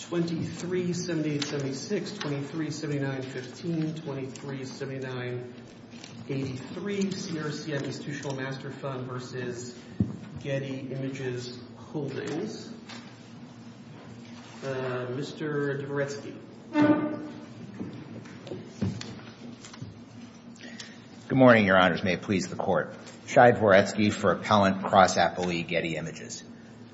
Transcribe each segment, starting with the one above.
2378-76, 2379-15, 2379-83, CRCM Institutional Master Fund v. Getty Images Holdings. Mr. Dvoretsky. Good morning, Your Honors. May it please the Court. Shai Dvoretsky for Appellant Cross-Appellee Getty Images.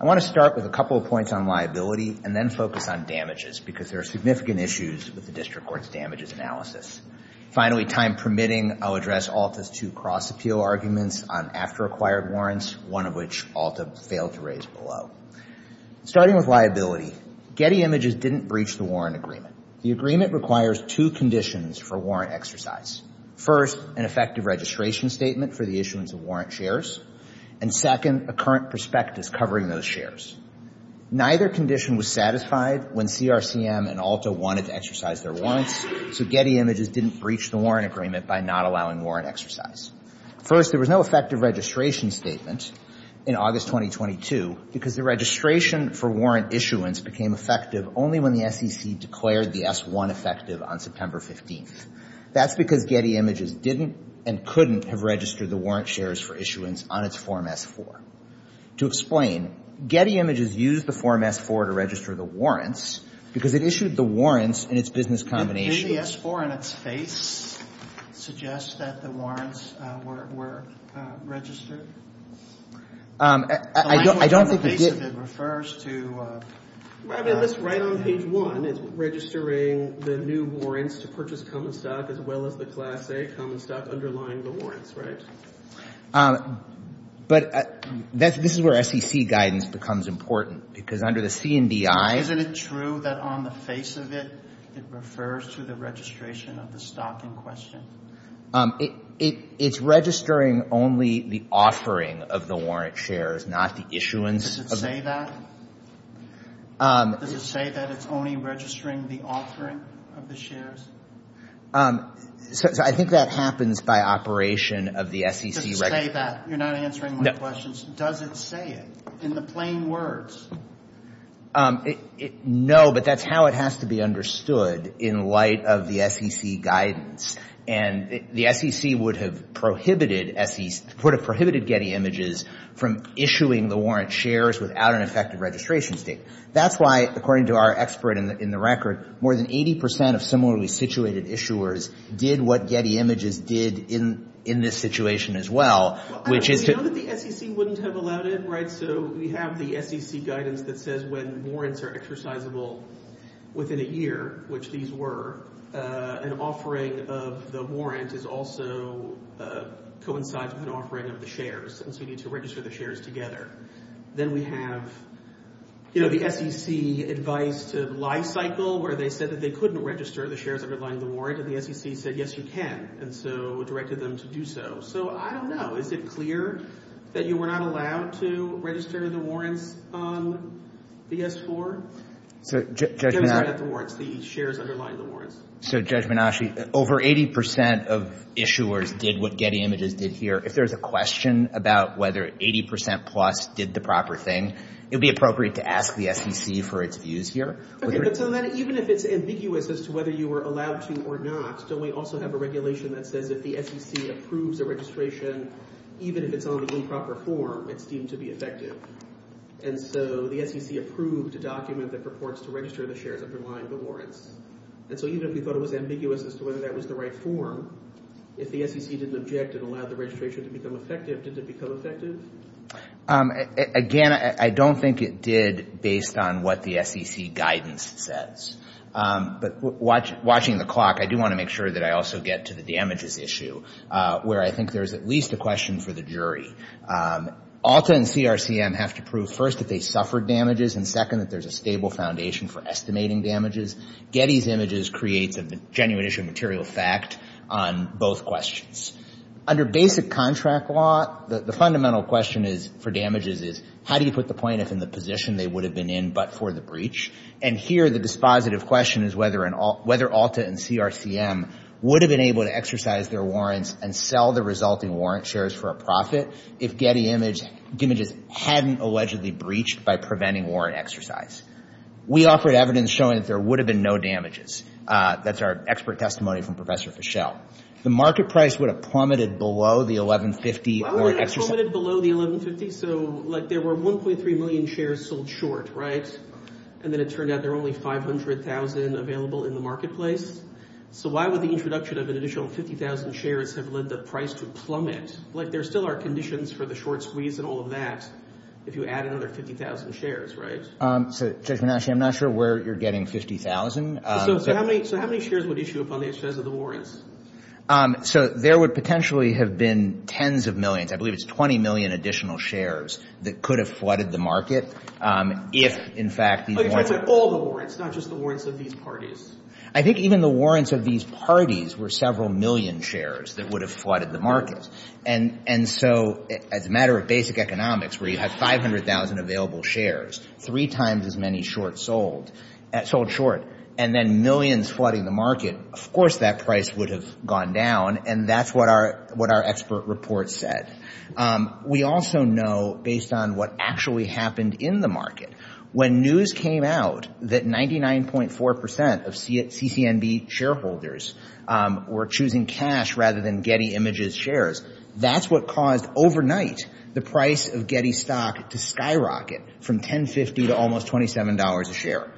I want to start with a couple of points on liability and then focus on damages because there are significant issues with the District Court's damages analysis. Finally, time permitting, I'll address ALTA's two cross-appeal arguments on after-acquired warrants, one of which ALTA failed to raise below. Starting with liability, Getty Images didn't breach the warrant agreement. The agreement requires two conditions for warrant exercise. First, an effective registration statement for the issuance of warrant shares. And second, a current prospectus covering those shares. Neither condition was satisfied when CRCM and ALTA wanted to exercise their warrants, so Getty Images didn't breach the warrant agreement by not allowing warrant exercise. First, there was no effective registration statement in August 2022 because the registration for warrant issuance became effective only when the SEC declared the S-1 effective on September 15th. That's because Getty Images didn't and couldn't have registered the warrant shares for issuance on its Form S-4. To explain, Getty Images used the Form S-4 to register the warrants because it issued the warrants in its business combination. Did the S-4 in its face suggest that the warrants were registered? I don't think it did. The face of it refers to... Well, I mean, this right on page 1 is registering the new warrants to purchase common stock as well as the Class A common stock underlying the warrants, right? But this is where SEC guidance becomes important because under the CNDI... Isn't it true that on the face of it, it refers to the registration of the stock in question? It's registering only the offering of the warrant shares, not the issuance of... Does it say that? Does it say that it's only registering the offering of the shares? So I think that happens by operation of the SEC... Just say that. You're not answering my questions. Does it say it in the plain words? No, but that's how it has to be understood in light of the SEC guidance. And the SEC would have prohibited Getty Images from issuing the warrant shares without an effective registration statement. That's why, according to our expert in the record, more than 80% of similarly situated issuers did what Getty Images did in this situation as well, which is... But you know that the SEC wouldn't have allowed it, right? So we have the SEC guidance that says when warrants are exercisable within a year, which these were, an offering of the warrant is also coincides with an offering of the shares, and so you need to register the shares together. Then we have, you know, the SEC advice to life cycle, where they said that they couldn't register the shares underlying the warrant, and the SEC said, yes, you can, and so directed them to do so. So I don't know. Is it clear that you were not allowed to register the warrants on the S-4? So Judge Menasche... To register the warrants, the shares underlying the warrants. So Judge Menasche, over 80% of issuers did what Getty Images did here. If there's a question about whether 80% plus did the proper thing, it would be appropriate to ask the SEC for its views here. Okay, but so then even if it's ambiguous as to whether you were allowed to or not, still we also have a regulation that says if the SEC approves a registration, even if it's on the improper form, it's deemed to be effective. And so the SEC approved a document that purports to register the shares underlying the warrants. And so even if we thought it was ambiguous as to whether that was the right form, if the SEC didn't object and allowed the registration to become effective, did it become effective? Again, I don't think it did based on what the SEC guidance says. But watching the clock, I do want to make sure that I also get to the damages issue where I think there's at least a question for the jury. ALTA and CRCM have to prove first that they suffered damages and second that there's a stable foundation for estimating damages. Getty's images creates a genuine issue of material fact on both questions. Under basic contract law, the fundamental question for damages is how do you put the plaintiff in the position they would have been in but for the breach? And here the dispositive question is whether ALTA and CRCM would have been able to exercise their warrants and sell the resulting warrant shares for a profit if Getty images hadn't allegedly breached by preventing warrant exercise. We offered evidence showing that there would have been no damages. That's our expert testimony from Professor Fischel. The market price would have plummeted below the $1,150. Why would it have plummeted below the $1,150? So like there were 1.3 million shares sold short, right? And then it turned out there were only 500,000 available in the marketplace. So why would the introduction of an additional 50,000 shares have led the price to plummet? Like there still are conditions for the short squeeze and all of that if you add another 50,000 shares, right? So Judge Manasci, I'm not sure where you're getting 50,000. So how many shares would issue upon the exercise of the warrants? So there would potentially have been tens of millions. I believe it's 20 million additional shares that could have flooded the market if, in fact, these warrants... But you're talking about all the warrants, not just the warrants of these parties. I think even the warrants of these parties were several million shares that would have flooded the market. And so as a matter of basic economics, where you have 500,000 available shares, three times as many short sold, sold short, and then millions flooding the market, of course that price would have gone down, and that's what our expert report said. We also know, based on what actually happened in the market, when news came out that 99.4% of CCNB shareholders were choosing cash rather than Getty Images shares, that's what caused overnight the price of Getty stock to skyrocket from $10.50 to almost $27 a share.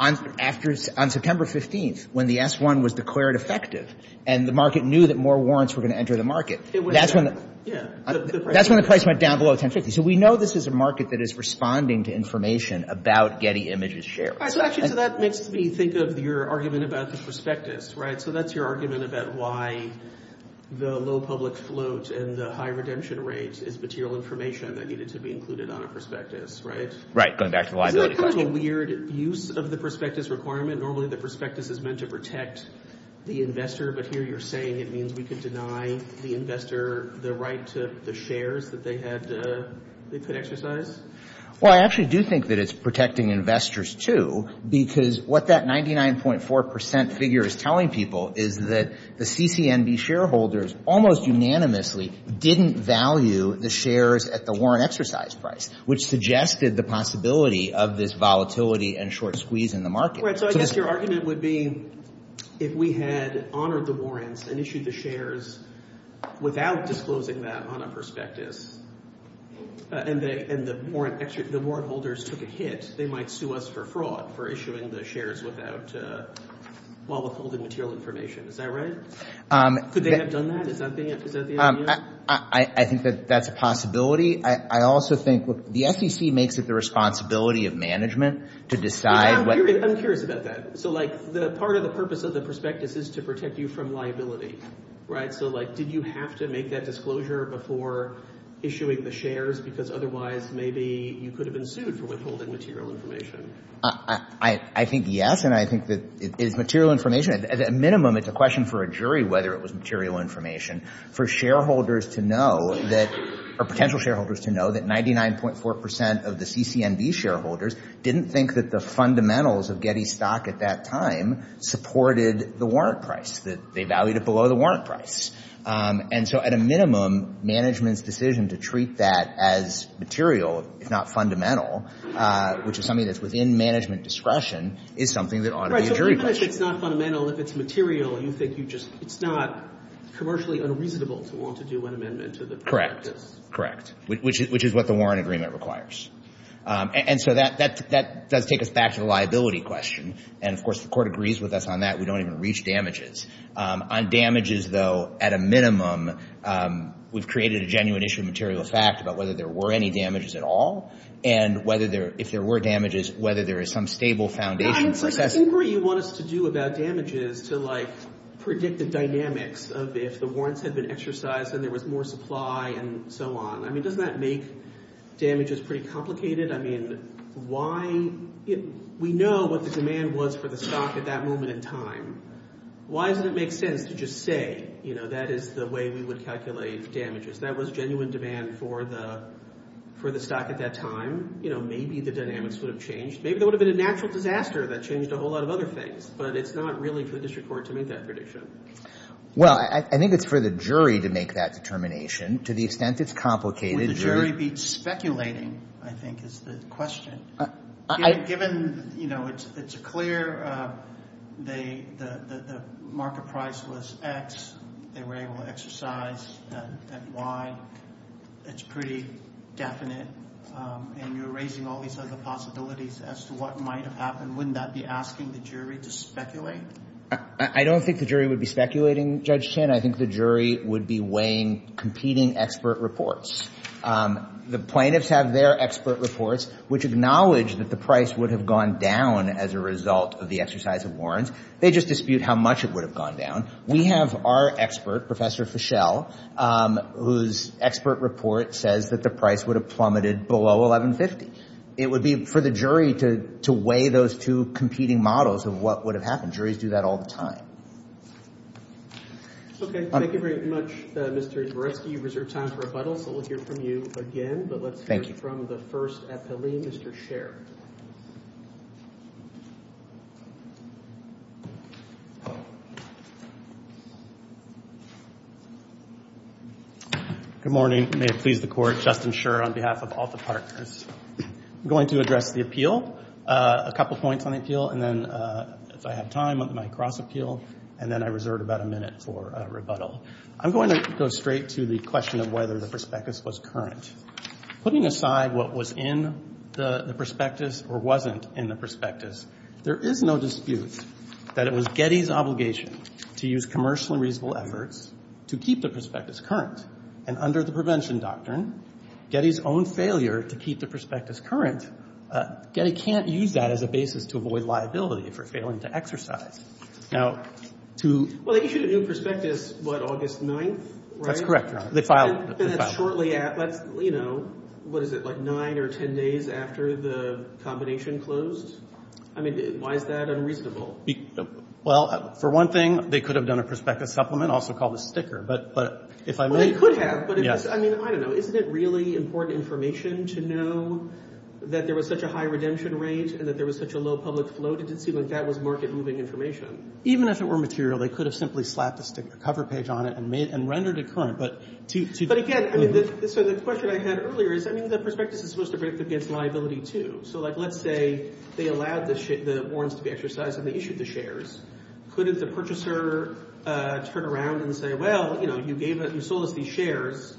On September 15th, when the S-1 was declared effective and the market knew that more warrants were going to enter the market... Yeah. That's when the price went down below $10.50. So we know this is a market that is responding to information about Getty Images shares. Actually, so that makes me think of your argument about the prospectus, right? So that's your argument about why the low public float and the high redemption rate is material information that needed to be included on a prospectus, right? Right, going back to the liability question. Isn't that kind of a weird use of the prospectus requirement? Normally the prospectus is meant to protect the investor, but here you're saying it means we could deny the investor the right to the shares that they could exercise? Well, I actually do think that it's protecting investors, too, because what that 99.4% figure is telling people is that the CCNB shareholders almost unanimously didn't value the shares at the warrant exercise price, which suggested the possibility of this volatility and short squeeze in the market. Right, so I guess your argument would be if we had honored the warrants and issued the shares without disclosing that on a prospectus, and the warrant holders took a hit, they might sue us for fraud for issuing the shares while withholding material information. Is that right? Could they have done that? Is that the idea? I think that that's a possibility. I also think the SEC makes it the responsibility of management to decide. I'm curious about that. So, like, part of the purpose of the prospectus is to protect you from liability, right? So, like, did you have to make that disclosure before issuing the shares? Because otherwise maybe you could have been sued for withholding material information. I think yes, and I think that it is material information. At a minimum, it's a question for a jury whether it was material information for shareholders to know that or potential shareholders to know that 99.4% of the CCNB shareholders didn't think that the fundamentals of Getty stock at that time supported the warrant price, that they valued it below the warrant price. And so at a minimum, management's decision to treat that as material, if not fundamental, which is something that's within management discretion, is something that ought to be a jury question. So even if it's not fundamental, if it's material, you think it's not commercially unreasonable to want to do an amendment to the prospectus. Correct. Which is what the warrant agreement requires. And so that does take us back to the liability question. And, of course, the Court agrees with us on that. We don't even reach damages. On damages, though, at a minimum, we've created a genuine issue of material fact about whether there were any damages at all, and whether there – if there were damages, whether there is some stable foundation for – I'm sort of angry you want us to do about damages to, like, predict the dynamics of if the warrants had been exercised and there was more supply and so on. I mean, doesn't that make damages pretty complicated? I mean, why – we know what the demand was for the stock at that moment in time. Why doesn't it make sense to just say, you know, that is the way we would calculate damages? That was genuine demand for the stock at that time. You know, maybe the dynamics would have changed. Maybe there would have been a natural disaster that changed a whole lot of other things. But it's not really for the District Court to make that prediction. Well, I think it's for the jury to make that determination. To the extent it's complicated. Would the jury be speculating, I think, is the question. Given, you know, it's a clear – the market price was X. They were able to exercise that Y. It's pretty definite. And you're raising all these other possibilities as to what might have happened. Wouldn't that be asking the jury to speculate? I don't think the jury would be speculating, Judge Chin. I think the jury would be weighing competing expert reports. The plaintiffs have their expert reports, which acknowledge that the price would have gone down as a result of the exercise of warrants. They just dispute how much it would have gone down. We have our expert, Professor Fischel, whose expert report says that the price would have plummeted below $1,150. It would be for the jury to weigh those two competing models of what would have happened. Juries do that all the time. Okay. Thank you very much, Mr. Zborewski. You reserve time for rebuttals, so we'll hear from you again. But let's hear from the first appellee, Mr. Sher. Good morning. May it please the Court. Justin Sher on behalf of all the partners. I'm going to address the appeal. A couple points on the appeal. And then, if I have time, on my cross-appeal. And then I reserve about a minute for rebuttal. I'm going to go straight to the question of whether the prospectus was current. Putting aside what was in the prospectus or wasn't in the prospectus, there is no dispute that it was Getty's obligation to use commercially reasonable efforts to keep the prospectus current. And under the prevention doctrine, Getty's own failure to keep the prospectus current, Getty can't use that as a basis to avoid liability for failing to exercise. Now, to ‑‑ Well, they issued a new prospectus, what, August 9th, right? That's correct, Your Honor. They filed it. And that's shortly after, you know, what is it, like nine or ten days after the combination closed? I mean, why is that unreasonable? Well, for one thing, they could have done a prospectus supplement, also called a sticker. Well, they could have. I mean, I don't know. Isn't it really important information to know that there was such a high redemption rate and that there was such a low public float? It didn't seem like that was market‑moving information. Even if it were material, they could have simply slapped a cover page on it and rendered it current. But again, so the question I had earlier is, I mean, the prospectus is supposed to predict against liability, too. So, like, let's say they allowed the warrants to be exercised and they issued the shares. Couldn't the purchaser turn around and say, well, you know, you sold us these shares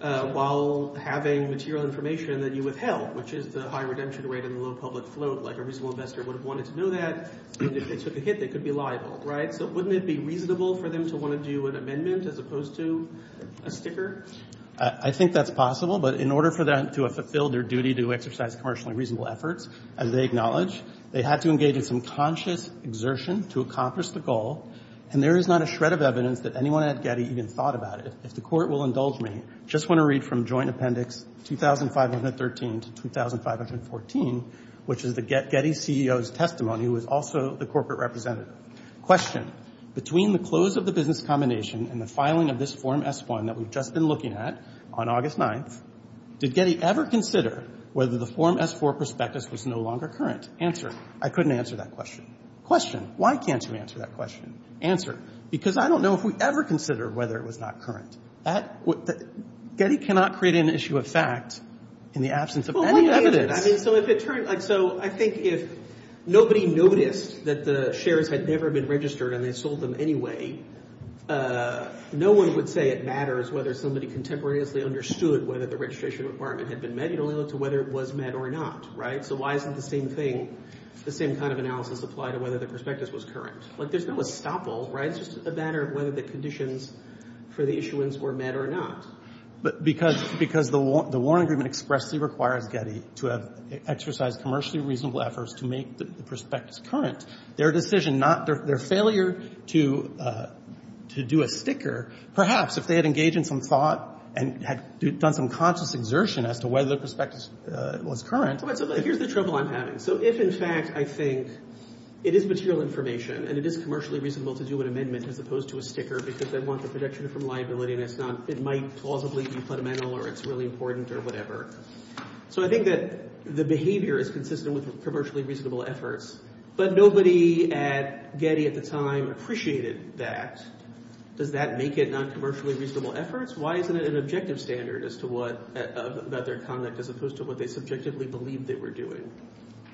while having material information that you withheld, which is the high redemption rate and the low public float. Like, a reasonable investor would have wanted to know that. And if they took a hit, they could be liable, right? So wouldn't it be reasonable for them to want to do an amendment as opposed to a sticker? I think that's possible. But in order for them to have fulfilled their duty to exercise commercially reasonable efforts, as they acknowledge, they had to engage in some conscious exertion to accomplish the goal. And there is not a shred of evidence that anyone at Getty even thought about it. If the Court will indulge me, just want to read from Joint Appendix 2513 to 2514, which is the Getty CEO's testimony, who was also the corporate representative. Question. Between the close of the business combination and the filing of this Form S1 that we've just been looking at on August 9th, did Getty ever consider whether the Form S4 prospectus was no longer current? Answer. I couldn't answer that question. Question. Why can't you answer that question? Answer. Because I don't know if we ever considered whether it was not current. That — Getty cannot create an issue of fact in the absence of any evidence. Well, let me answer that. I mean, so if it turned — like, so I think if nobody noticed that the shares had never been registered and they sold them anyway, no one would say it matters whether somebody contemporaneously understood whether the registration requirement had been met. It only looked to whether it was met or not, right? So why isn't the same thing, the same kind of analysis apply to whether the prospectus was current? Like, there's no estoppel, right? It's just a matter of whether the conditions for the issuance were met or not. But because the Warren Agreement expressly requires Getty to have exercised commercially reasonable efforts to make the prospectus current, their decision not — their failure to do a sticker, perhaps if they had engaged in some thought and had done some conscious exertion as to whether the prospectus was current — So here's the trouble I'm having. So if, in fact, I think it is material information and it is commercially reasonable to do an amendment as opposed to a sticker because they want the protection from liability and it's not — it might plausibly be fundamental or it's really important or whatever. So I think that the behavior is consistent with commercially reasonable efforts. But nobody at Getty at the time appreciated that. Does that make it not commercially reasonable efforts? Why isn't it an objective standard as to what — about their conduct as opposed to what they subjectively believed they were doing?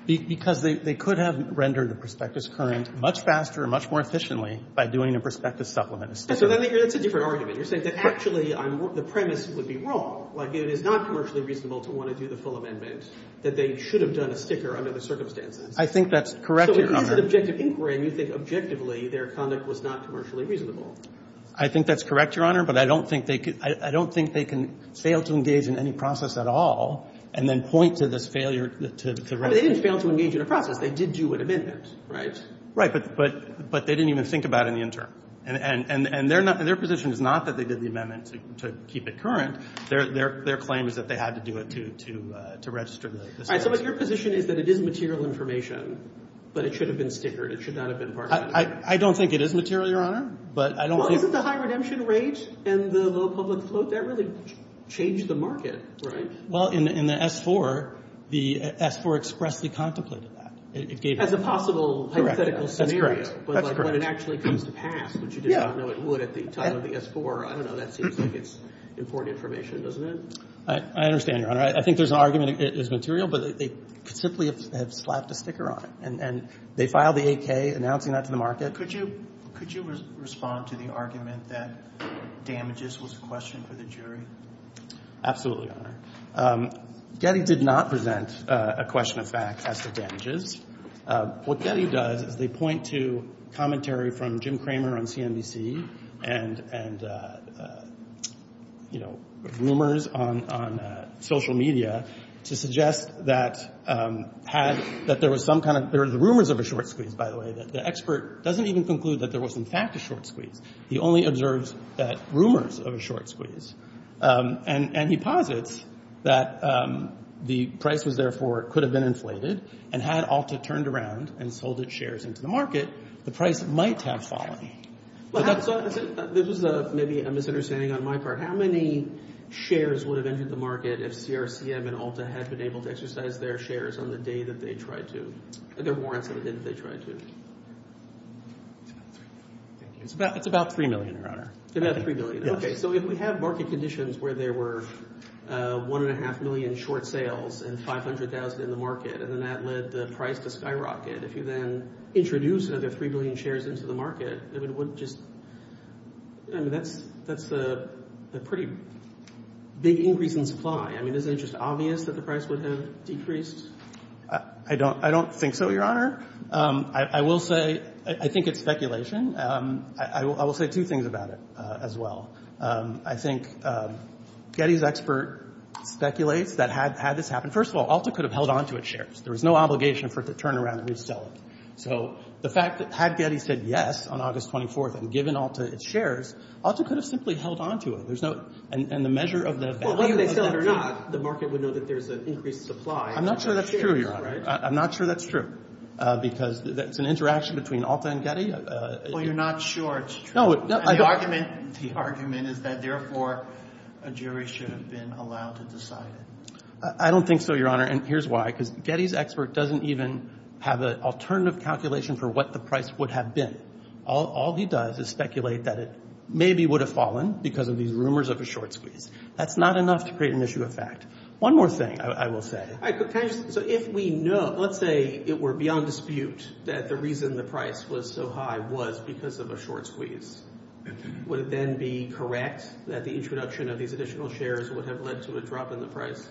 Because they could have rendered the prospectus current much faster and much more efficiently by doing a prospectus supplement. That's a different argument. You're saying that actually the premise would be wrong. Like, it is not commercially reasonable to want to do the full amendment, that they should have done a sticker under the circumstances. I think that's correct in your comment. Why is it objective inquiry and you think objectively their conduct was not commercially reasonable? I think that's correct, Your Honor. But I don't think they could — I don't think they can fail to engage in any process at all and then point to this failure to — They didn't fail to engage in a process. They did do an amendment, right? Right. But they didn't even think about it in the interim. And their position is not that they did the amendment to keep it current. Their claim is that they had to do it to register the status. All right. So your position is that it is material information, but it should have been stickered. It should not have been part of it. I don't think it is material, Your Honor. But I don't think — Well, isn't the high redemption rate and the low public float, that really changed the market, right? Well, in the S-IV, the S-IV expressly contemplated that. It gave — As a possible hypothetical scenario. But, like, when it actually comes to pass, which you did not know it would at the time of the S-IV, I don't know, that seems like it's important information, doesn't it? I understand, Your Honor. I think there's an argument it is material, but they could simply have slapped a sticker on it. And they filed the AK announcing that to the market. Could you respond to the argument that damages was a question for the jury? Absolutely, Your Honor. Getty did not present a question of facts as to damages. What Getty does is they point to commentary from Jim Cramer on CNBC and, you know, rumors on social media to suggest that there was some kind of — there were rumors of a short squeeze, by the way. The expert doesn't even conclude that there was, in fact, a short squeeze. He only observes rumors of a short squeeze. And he posits that the price was, therefore, could have been inflated, and had ALTA turned around and sold its shares into the market, the price might have fallen. This was maybe a misunderstanding on my part. How many shares would have entered the market if CRCM and ALTA had been able to exercise their shares on the day that they tried to — their warrants on the day that they tried to? It's about 3 million, Your Honor. About 3 million. Yes. So if we have market conditions where there were 1.5 million short sales and 500,000 in the market, and then that led the price to skyrocket, if you then introduce another 3 million shares into the market, I mean, what just — I mean, that's a pretty big increase in supply. I mean, isn't it just obvious that the price would have decreased? I don't think so, Your Honor. I will say — I think it's speculation. I will say two things about it as well. I think Getty's expert speculates that had this happened — first of all, ALTA could have held onto its shares. There was no obligation for it to turn around and resell it. So the fact that had Getty said yes on August 24th and given ALTA its shares, ALTA could have simply held onto it. There's no — and the measure of the — Well, whether they sell it or not, the market would know that there's an increased supply. I'm not sure that's true, Your Honor. I'm not sure that's true, because it's an interaction between ALTA and Getty. Well, you're not sure it's true. And the argument is that, therefore, a jury should have been allowed to decide it. I don't think so, Your Honor, and here's why. Because Getty's expert doesn't even have an alternative calculation for what the price would have been. All he does is speculate that it maybe would have fallen because of these rumors of a short squeeze. That's not enough to create an issue of fact. One more thing I will say. So if we know — let's say it were beyond dispute that the reason the price was so high was because of a short squeeze, would it then be correct that the introduction of these additional shares would have led to a drop in the price?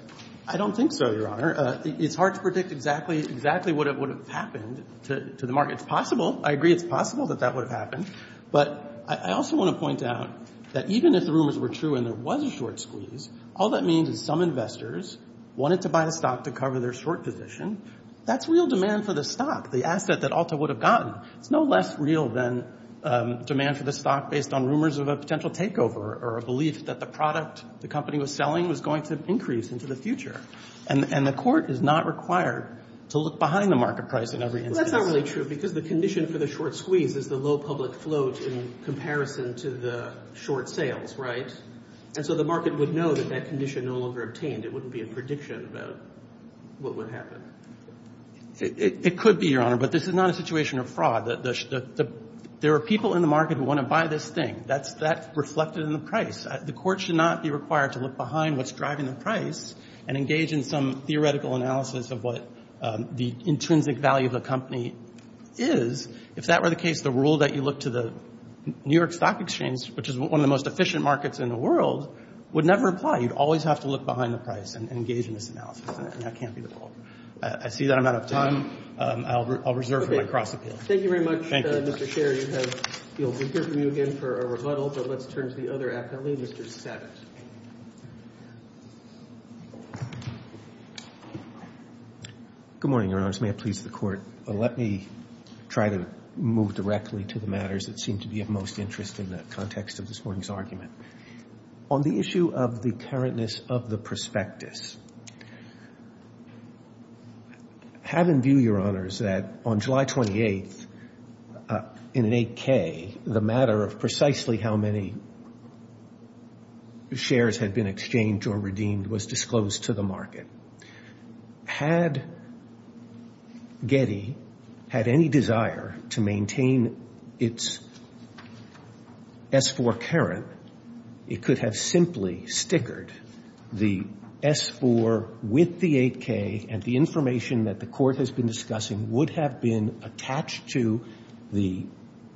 I don't think so, Your Honor. It's hard to predict exactly what would have happened to the market. It's possible. I agree it's possible that that would have happened. But I also want to point out that even if the rumors were true and there was a short squeeze, all that means is some investors wanted to buy a stock to cover their short position. That's real demand for the stock, the asset that Alta would have gotten. It's no less real than demand for the stock based on rumors of a potential takeover or a belief that the product the company was selling was going to increase into the future. And the court is not required to look behind the market price in every instance. That's not really true because the condition for the short squeeze is the low public float in comparison to the short sales, right? And so the market would know that that condition no longer obtained. It wouldn't be a prediction about what would happen. It could be, Your Honor, but this is not a situation of fraud. There are people in the market who want to buy this thing. That's reflected in the price. The court should not be required to look behind what's driving the price and engage in some theoretical analysis of what the intrinsic value of the company is. If that were the case, the rule that you look to the New York Stock Exchange, which is one of the most efficient markets in the world, would never apply. You'd always have to look behind the price and engage in this analysis, and that can't be the rule. I see that I'm out of time. I'll reserve for my cross-appeal. Thank you very much, Mr. Sherry. We'll hear from you again for a rebuttal, but let's turn to the other appellee, Mr. Sabat. Good morning, Your Honors. May it please the Court. Let me try to move directly to the matters that seem to be of most interest in the context of this morning's argument. On the issue of the currentness of the prospectus, have in view, Your Honors, that on July 28th, in an 8K, the matter of precisely how many shares had been exchanged or redeemed was disclosed to the market. Had Getty had any desire to maintain its S-4 Karen, it could have simply stickered the S-4 with the 8K, and the information that the Court has been discussing would have been attached to the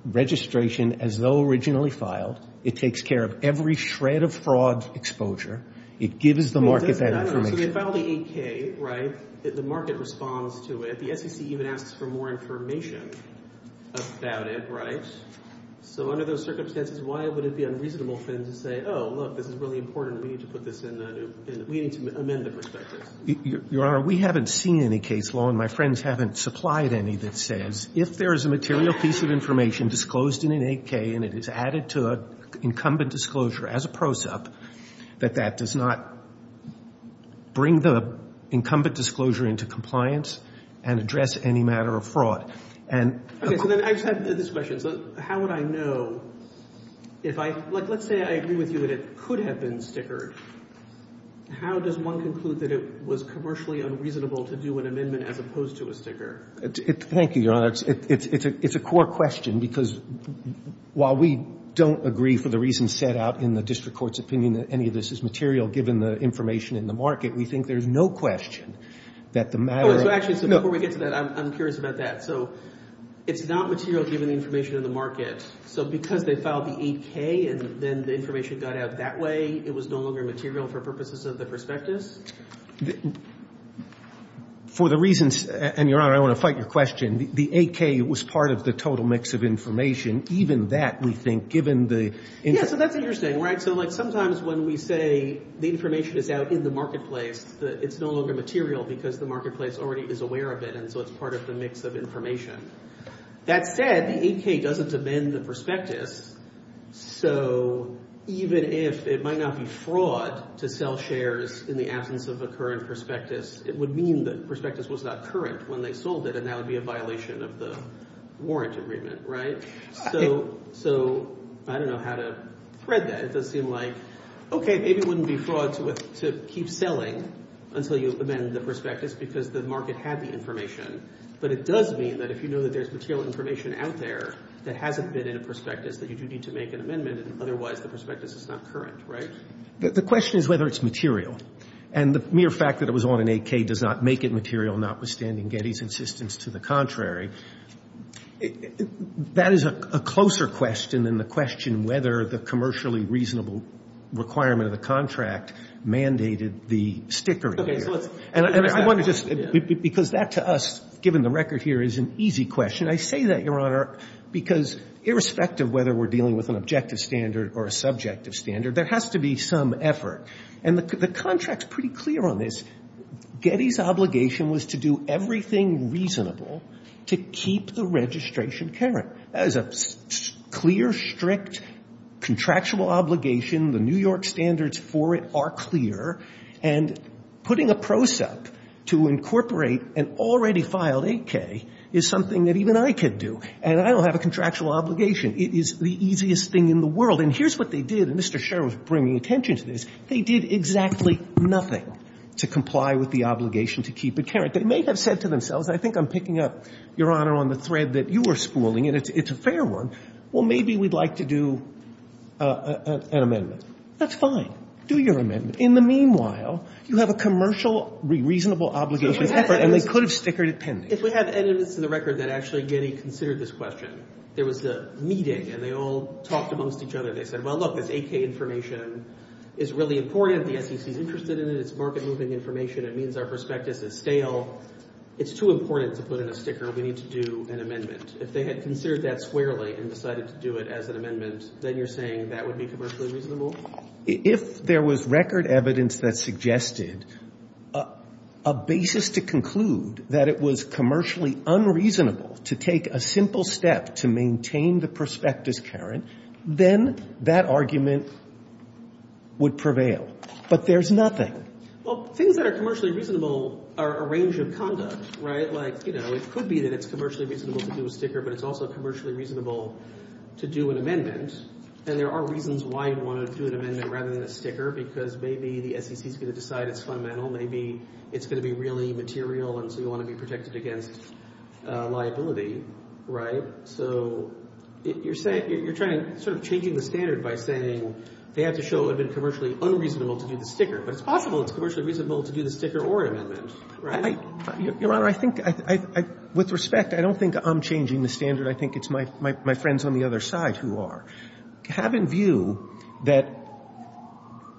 registration as though originally filed. It takes care of every shred of fraud exposure. It gives the market that information. So they filed the 8K, right? The market responds to it. The SEC even asks for more information about it, right? So under those circumstances, why would it be unreasonable for them to say, oh, look, this is really important, we need to put this in a new – we need to amend the prospectus? Your Honor, we haven't seen any case law, and my friends haven't supplied any, that says if there is a material piece of information disclosed in an 8K and it is added to an incumbent disclosure as a pro sup, that that does not bring the incumbent disclosure into compliance and address any matter of fraud. Okay. So then I just have this question. So how would I know if I – like, let's say I agree with you that it could have been stickered. How does one conclude that it was commercially unreasonable to do an amendment as opposed to a sticker? Thank you, Your Honor. It's a core question because while we don't agree for the reasons set out in the district court's opinion that any of this is material given the information in the market, we think there's no question that the matter of – Oh, so actually, so before we get to that, I'm curious about that. So it's not material given the information in the market. So because they filed the 8K and then the information got out that way, it was no longer material for purposes of the prospectus? For the reasons – and, Your Honor, I want to fight your question. The 8K was part of the total mix of information. Even that, we think, given the – Yeah, so that's what you're saying, right? So, like, sometimes when we say the information is out in the marketplace, it's no longer material because the marketplace already is aware of it, and so it's part of the mix of information. That said, the 8K doesn't amend the prospectus. So even if it might not be fraud to sell shares in the absence of a current prospectus, it would mean the prospectus was not current when they sold it, and that would be a violation of the warrant agreement, right? So I don't know how to thread that. It does seem like, okay, maybe it wouldn't be fraud to keep selling until you amend the prospectus because the market had the information, but it does mean that if you know that there's material information out there that hasn't been in a prospectus, that you do need to make an amendment, and otherwise the prospectus is not current, right? The question is whether it's material, and the mere fact that it was on an 8K does not make it material, notwithstanding Getty's insistence to the contrary. That is a closer question than the question whether the commercially reasonable requirement of the contract mandated the sticker here. Okay, so let's – And I want to just – Because that, to us, given the record here, is an easy question. I say that, Your Honor, because irrespective whether we're dealing with an objective standard or a subjective standard, there has to be some effort. And the contract's pretty clear on this. Getty's obligation was to do everything reasonable to keep the registration current. That is a clear, strict, contractual obligation. The New York standards for it are clear. And putting a pro sup to incorporate an already filed 8K is something that even I could do, and I don't have a contractual obligation. It is the easiest thing in the world. And here's what they did, and Mr. Sherwood's bringing attention to this. They did exactly nothing to comply with the obligation to keep it current. They may have said to themselves, and I think I'm picking up, Your Honor, on the thread that you were spooling, and it's a fair one, well, maybe we'd like to do an amendment. That's fine. Do your amendment. In the meanwhile, you have a commercial reasonable obligation of effort, and they could have stickered it pending. If we have evidence in the record that actually Getty considered this question, there was a meeting, and they all talked amongst each other. They said, well, look, this 8K information is really important. The SEC's interested in it. It's market-moving information. It means our prospectus is stale. It's too important to put in a sticker. We need to do an amendment. If they had considered that squarely and decided to do it as an amendment, then you're saying that would be commercially reasonable? If there was record evidence that suggested a basis to conclude that it was commercially unreasonable to take a simple step to maintain the prospectus, Karen, then that argument would prevail. But there's nothing. Well, things that are commercially reasonable are a range of conduct, right? Like, you know, it could be that it's commercially reasonable to do a sticker, but it's also commercially reasonable to do an amendment. And there are reasons why you'd want to do an amendment rather than a sticker, because maybe the SEC's going to decide it's fundamental. Maybe it's going to be really material, and so you want to be protected against liability, right? So you're saying you're trying to sort of changing the standard by saying they have to show it would have been commercially unreasonable to do the sticker. But it's possible it's commercially reasonable to do the sticker or an amendment, right? Your Honor, I think I — with respect, I don't think I'm changing the standard. I think it's my friends on the other side who are, have in view that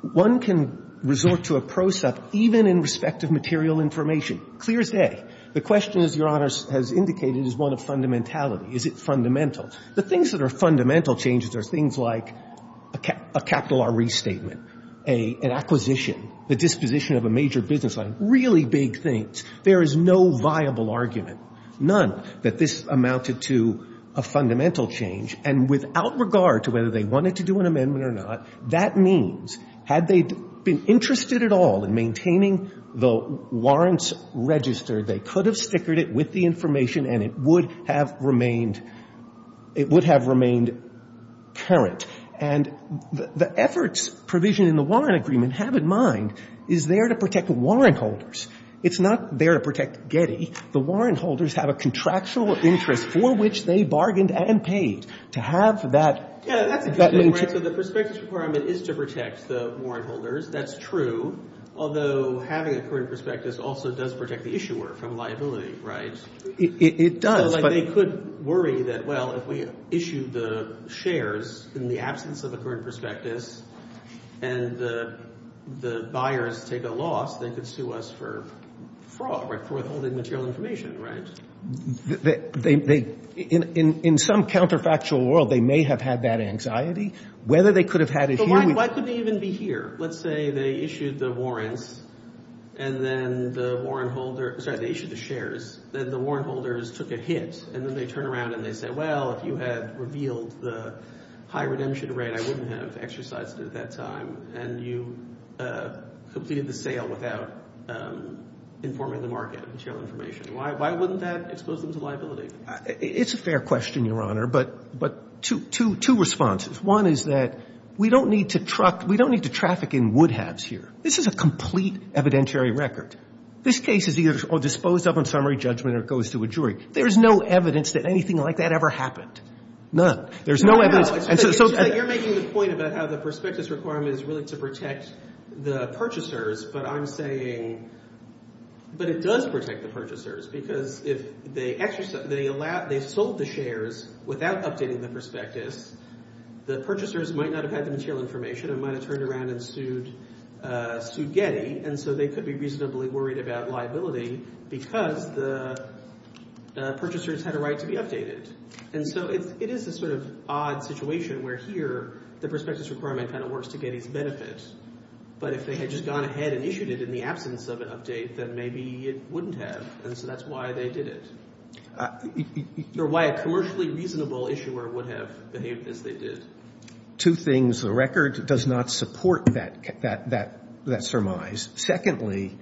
one can resort to a process even in respect of material information. Clear as day. The question, as Your Honor has indicated, is one of fundamentality. Is it fundamental? The things that are fundamental changes are things like a capital R restatement, an acquisition, the disposition of a major business line, really big things. There is no viable argument. None. That this amounted to a fundamental change. And without regard to whether they wanted to do an amendment or not, that means had they been interested at all in maintaining the warrant's register, they could have stickered it with the information and it would have remained — it would have remained current. And the efforts provision in the warrant agreement, have in mind, is there to protect warrant holders. It's not there to protect Getty. The warrant holders have a contractual interest for which they bargained and paid. To have that — Yeah, that's a good point. So the prospectus requirement is to protect the warrant holders. That's true. Although having a current prospectus also does protect the issuer from liability, right? It does, but — They could worry that, well, if we issue the shares in the absence of a current prospectus and the buyers take a loss, they could sue us for fraud, for withholding material information, right? They — in some counterfactual world, they may have had that anxiety. Whether they could have had it here — But why could they even be here? Let's say they issued the warrants, and then the warrant holder — sorry, they issued the shares. Then the warrant holders took a hit, and then they turn around and they say, well, if you had revealed the high redemption rate, I wouldn't have exercised it at that time, and you completed the sale without informing the market of material information. Why wouldn't that expose them to liability? It's a fair question, Your Honor, but two responses. One is that we don't need to truck — we don't need to traffic in wood halves here. This is a complete evidentiary record. This case is either disposed of on summary judgment or goes to a jury. There is no evidence that anything like that ever happened. None. There's no evidence — You're making the point about how the prospectus requirement is really to protect the purchasers, but I'm saying — but it does protect the purchasers, because if they sold the shares without updating the prospectus, the purchasers might not have had the material information and might have turned around and sued Getty, and so they could be reasonably worried about liability because the purchasers had a right to be updated. And so it is a sort of odd situation where here the prospectus requirement kind of works to Getty's benefit, but if they had just gone ahead and issued it in the absence of an update, then maybe it wouldn't have, and so that's why they did it. Or why a commercially reasonable issuer would have behaved as they did. Two things. The record does not support that surmise. Secondly,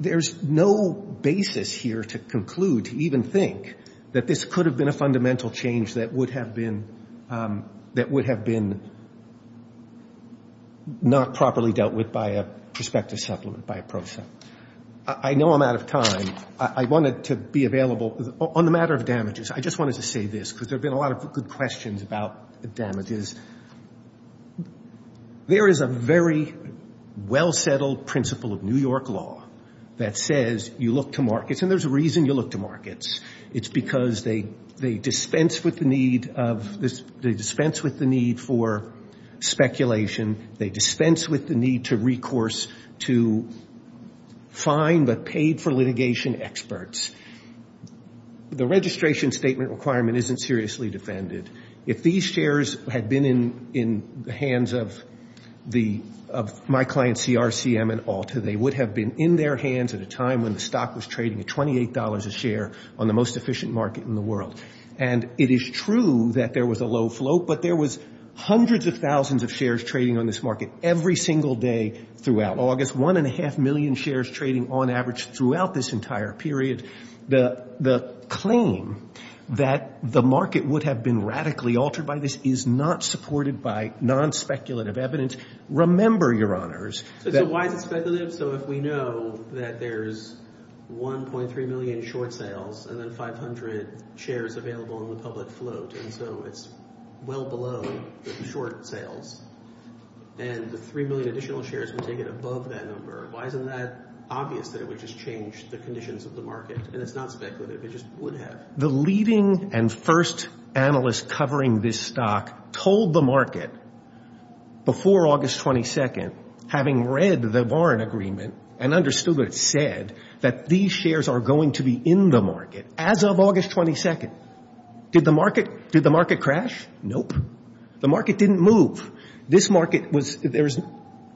there's no basis here to conclude, to even think, that this could have been a fundamental change that would have been — that would have been not properly dealt with by a prospectus supplement, by a PROSA. I know I'm out of time. I wanted to be available. On the matter of damages, I just wanted to say this, because there have been a lot of good questions about damages. There is a very well-settled principle of New York law that says you look to markets, and there's a reason you look to markets. It's because they dispense with the need of — they dispense with the need for speculation. They dispense with the need to recourse to fine but paid-for litigation experts. The registration statement requirement isn't seriously defended. If these shares had been in the hands of my clients, CRCM and Alta, they would have been in their hands at a time when the stock was trading at $28 a share on the most efficient market in the world. And it is true that there was a low flow, but there was hundreds of thousands of shares trading on this market every single day throughout August, 1.5 million shares trading on average throughout this entire period. The claim that the market would have been radically altered by this is not supported by nonspeculative evidence. Remember, Your Honors — So why is it speculative? So if we know that there's 1.3 million short sales and then 500 shares available in the public float, and so it's well below the short sales, and the 3 million additional shares would take it above that number, why isn't that obvious that it would just change the conditions of the market? And it's not speculative. It just would have. The leading and first analyst covering this stock told the market before August 22nd, having read the Warren Agreement and understood what it said, that these shares are going to be in the market as of August 22nd. Did the market crash? Nope. The market didn't move.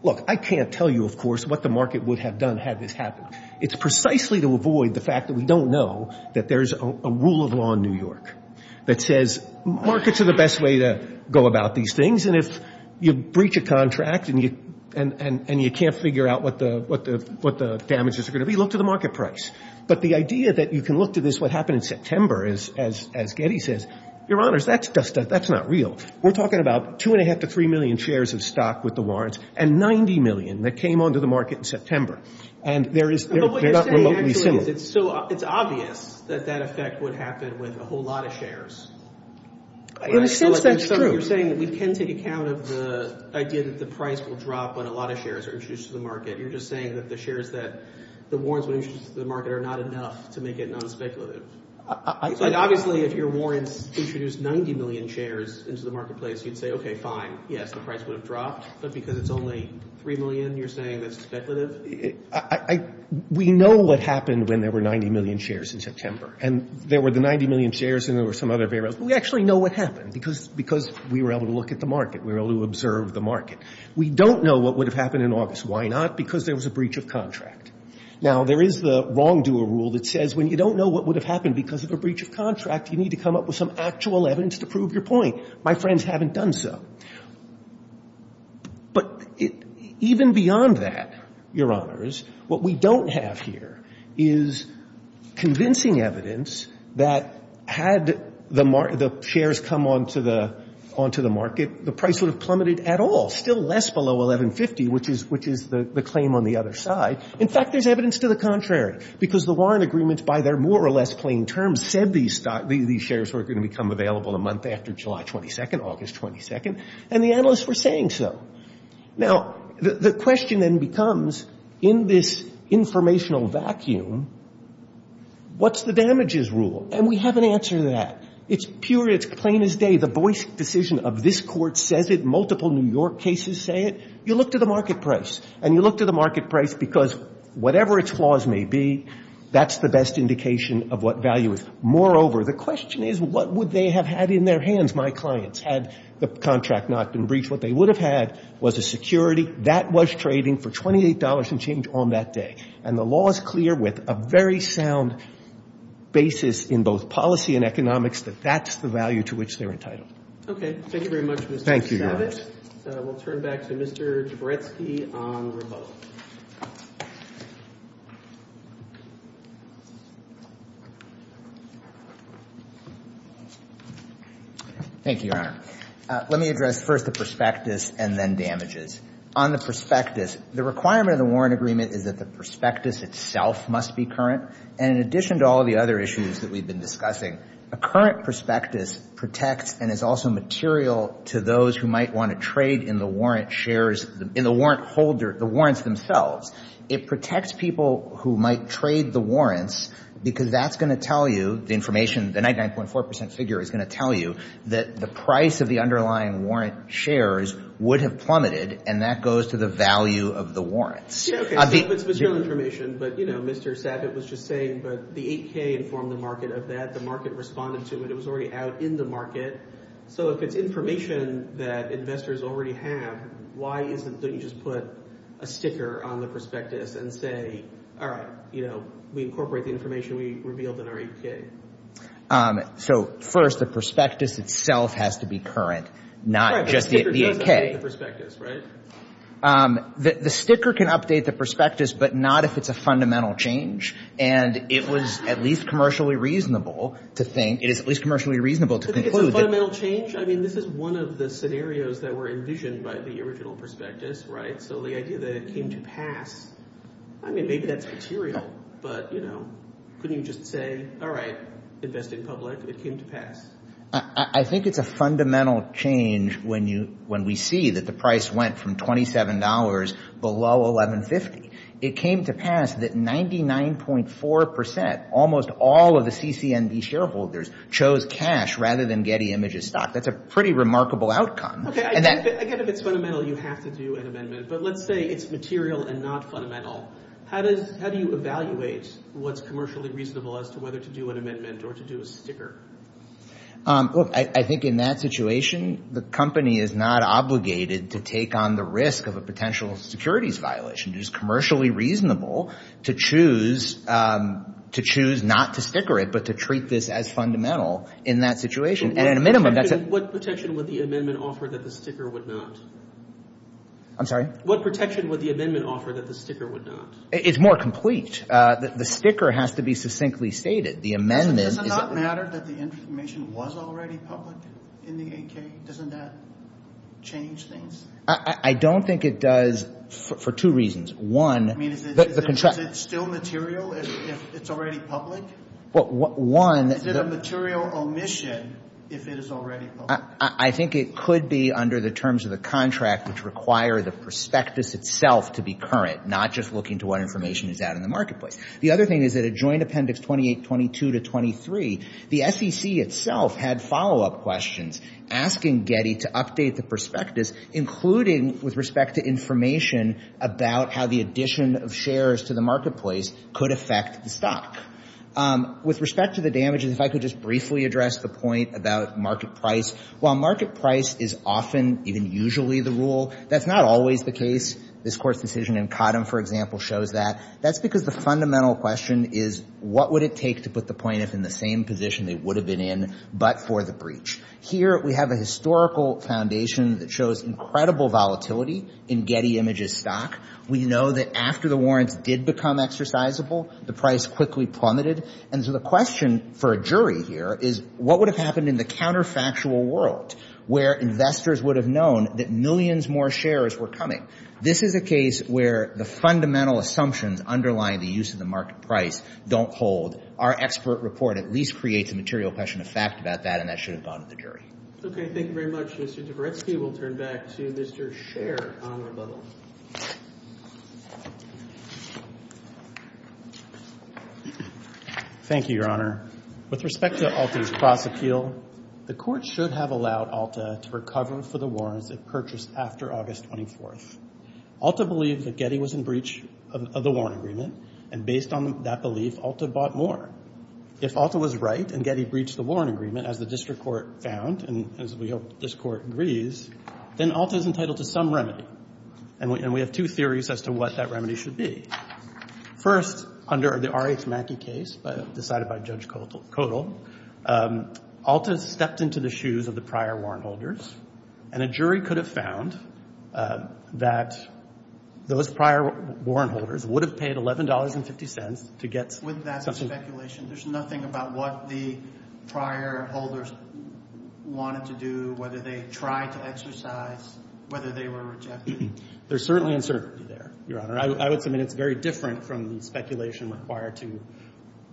Look, I can't tell you, of course, what the market would have done had this happened. It's precisely to avoid the fact that we don't know that there's a rule of law in New York that says markets are the best way to go about these things, and if you breach a contract and you can't figure out what the damages are going to be, look to the market price. But the idea that you can look to this, what happened in September, as Getty says, Your Honors, that's not real. We're talking about 2.5 to 3 million shares of stock with the warrants and 90 million that came onto the market in September, and they're not remotely similar. But what you're saying actually is it's obvious that that effect would happen with a whole lot of shares. In a sense, that's true. You're saying that we can take account of the idea that the price will drop when a lot of shares are introduced to the market. You're just saying that the shares that the warrants would introduce to the market are not enough to make it non-speculative. Obviously, if your warrants introduced 90 million shares into the marketplace, you'd say, okay, fine, yes, the price would have dropped, but because it's only 3 million, you're saying that's speculative? We know what happened when there were 90 million shares in September, and there were the 90 million shares and there were some other variables. We actually know what happened because we were able to look at the market. We were able to observe the market. We don't know what would have happened in August. Why not? Because there was a breach of contract. Now, there is the wrongdoer rule that says when you don't know what would have happened because of a breach of contract, you need to come up with some actual evidence to prove your point. My friends haven't done so. But even beyond that, Your Honors, what we don't have here is convincing evidence that had the shares come onto the market, the price would have plummeted at all, still less below $1,150, which is the claim on the other side. In fact, there's evidence to the contrary because the Warren agreements, by their more or less plain terms, said these shares were going to become available a month after July 22nd, August 22nd, and the analysts were saying so. Now, the question then becomes, in this informational vacuum, what's the damages rule? And we have an answer to that. It's pure. It's plain as day. The Boyce decision of this court says it. Multiple New York cases say it. You look to the market price, and you look to the market price because whatever its flaws may be, that's the best indication of what value is. Moreover, the question is, what would they have had in their hands, my clients, had the contract not been breached? What they would have had was a security. That was trading for $28 and change on that day. And the law is clear with a very sound basis in both policy and economics that that's the value to which they're entitled. Okay. Thank you very much, Mr. Savage. Thank you, Your Honors. We'll turn back to Mr. Jaboretsky on rebuttal. Thank you, Your Honor. Let me address first the prospectus and then damages. On the prospectus, the requirement of the Warren Agreement is that the prospectus itself must be current. And in addition to all the other issues that we've been discussing, a current prospectus protects and is also material to those who might want to trade in the warrant shares, in the warrant holder, the warrants themselves. It protects people who might trade the warrants because that's going to tell you, the information, the 99.4% figure is going to tell you, that the price of the underlying warrant shares would have plummeted, and that goes to the value of the warrants. Yeah, okay. It's material information, but, you know, Mr. Savage was just saying, but the 8K informed the market of that. The market responded to it. It was already out in the market. So if it's information that investors already have, why don't you just put a sticker on the prospectus and say, all right, you know, we incorporate the information we revealed in our 8K? So, first, the prospectus itself has to be current, not just the 8K. Right, but the sticker doesn't update the prospectus, right? The sticker can update the prospectus, but not if it's a fundamental change. And it was at least commercially reasonable to think, it is at least commercially reasonable to conclude that. But it's a fundamental change? I mean, this is one of the scenarios that were envisioned by the original prospectus, right? So the idea that it came to pass, I mean, maybe that's material, but, you know, couldn't you just say, all right, investing public, it came to pass? I think it's a fundamental change when we see that the price went from $27 below $11.50. It came to pass that 99.4%, almost all of the CCND shareholders, chose cash rather than Getty Images stock. That's a pretty remarkable outcome. Okay, I get if it's fundamental, you have to do an amendment. But let's say it's material and not fundamental. How do you evaluate what's commercially reasonable as to whether to do an amendment or to do a sticker? Look, I think in that situation, the company is not obligated to take on the risk of a potential securities violation. It is commercially reasonable to choose not to sticker it, but to treat this as fundamental in that situation. At a minimum, that's a— What protection would the amendment offer that the sticker would not? I'm sorry? What protection would the amendment offer that the sticker would not? It's more complete. The sticker has to be succinctly stated. The amendment— So does it not matter that the information was already public in the 8K? Doesn't that change things? I don't think it does for two reasons. One— I mean, is it still material if it's already public? Well, one— Is it a material omission if it is already public? I think it could be under the terms of the contract, which require the prospectus itself to be current, not just looking to what information is out in the marketplace. The other thing is that a joint appendix 2822 to 23, the SEC itself had follow-up questions asking Getty to update the prospectus, including with respect to information about how the addition of shares to the marketplace could affect the stock. With respect to the damages, if I could just briefly address the point about market price. While market price is often, even usually, the rule, that's not always the case. This Court's decision in Cottom, for example, shows that. That's because the fundamental question is, what would it take to put the plaintiff in the same position they would have been in, but for the breach? Here, we have a historical foundation that shows incredible volatility in Getty Images' stock. We know that after the warrants did become exercisable, the price quickly plummeted. And so the question for a jury here is, what would have happened in the counterfactual world, where investors would have known that millions more shares were coming? This is a case where the fundamental assumptions underlying the use of the market price don't hold. Our expert report at least creates a material question of fact about that, and that should have bothered the jury. Okay. Thank you very much. Mr. Dvoretsky, we'll turn back to Mr. Sher on rebuttal. Thank you, Your Honor. With respect to Alta's cross-appeal, the Court should have allowed Alta to recover for the warrants it purchased after August 24th. Alta believed that Getty was in breach of the warrant agreement, and based on that belief, Alta bought more. If Alta was right and Getty breached the warrant agreement, as the district court found, and as we hope this Court agrees, then Alta is entitled to some remedy. And we have two theories as to what that remedy should be. First, under the R.H. Mackey case, decided by Judge Kodal, Alta stepped into the shoes of the prior warrant holders, and a jury could have found that those prior warrant holders would have paid $11.50 to get something. There's nothing about what the prior holders wanted to do, whether they tried to exercise, whether they were rejected. There's certainly uncertainty there, Your Honor. I would submit it's very different from the speculation required to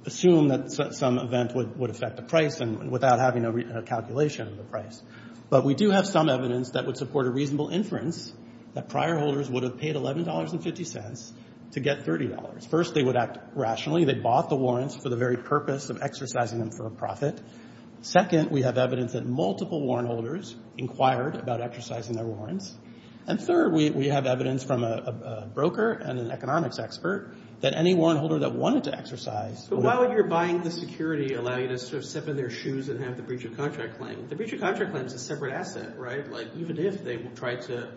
assume that some event would affect the price without having a calculation of the price. But we do have some evidence that would support a reasonable inference that prior holders would have paid $11.50 to get $30. First, they would act rationally. They bought the warrants for the very purpose of exercising them for a profit. Second, we have evidence that multiple warrant holders inquired about exercising their warrants. And third, we have evidence from a broker and an economics expert that any warrant holder that wanted to exercise... But while you're buying the security, allowing us to step in their shoes and have the breach of contract claim, the breach of contract claim is a separate asset, right? Like, even if they tried to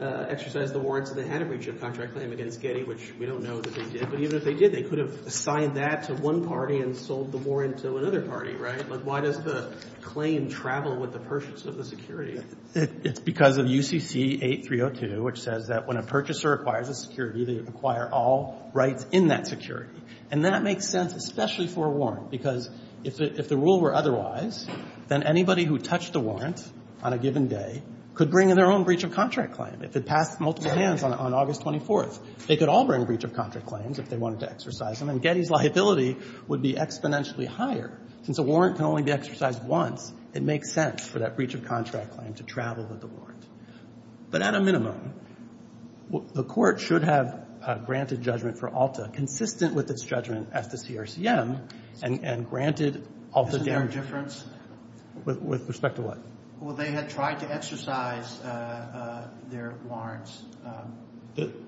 exercise the warrants and they had a breach of contract claim against Getty, which we don't know that they did, but even if they did, they could have assigned that to one party and sold the warrant to another party, right? Like, why does the claim travel with the purchase of the security? It's because of UCC 8302, which says that when a purchaser acquires a security, they acquire all rights in that security. And that makes sense, especially for a warrant, because if the rule were otherwise, then anybody who touched the warrant on a given day could bring in their own breach of contract claim if it passed multiple hands on August 24th. They could all bring breach of contract claims if they wanted to exercise them, and Getty's liability would be exponentially higher. Since a warrant can only be exercised once, it makes sense for that breach of contract claim to travel with the warrant. But at a minimum, the Court should have granted judgment for ALTA consistent with its judgment as to CRCM and granted ALTA guarantee. Isn't there a difference? With respect to what? Well, they had tried to exercise their warrants.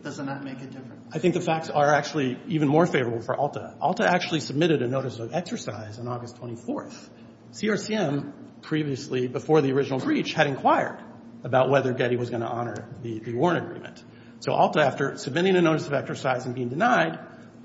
Does that not make a difference? I think the facts are actually even more favorable for ALTA. ALTA actually submitted a notice of exercise on August 24th. CRCM, previously, before the original breach, had inquired about whether Getty was going to honor the warrant agreement. So ALTA, after submitting a notice of exercise and being denied,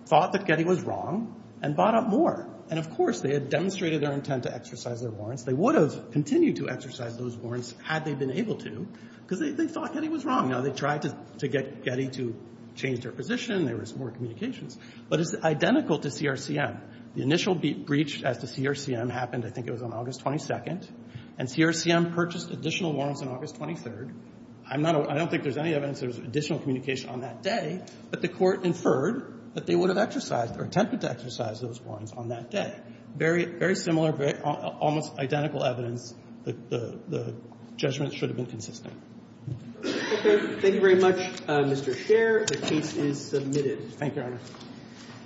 thought that Getty was wrong and bought up more. And, of course, they had demonstrated their intent to exercise their warrants. They would have continued to exercise those warrants had they been able to, because they thought Getty was wrong. Now, they tried to get Getty to change their position. There was more communications. But it's identical to CRCM. The initial breach as to CRCM happened, I think, it was on August 22nd. And CRCM purchased additional warrants on August 23rd. I'm not a – I don't think there's any evidence there was additional communication on that day. But the Court inferred that they would have exercised or attempted to exercise those warrants on that day. Very, very similar, almost identical evidence. The judgment should have been consistent. Okay. Thank you very much, Mr. Sher. The case is submitted. Thank you, Your Honor.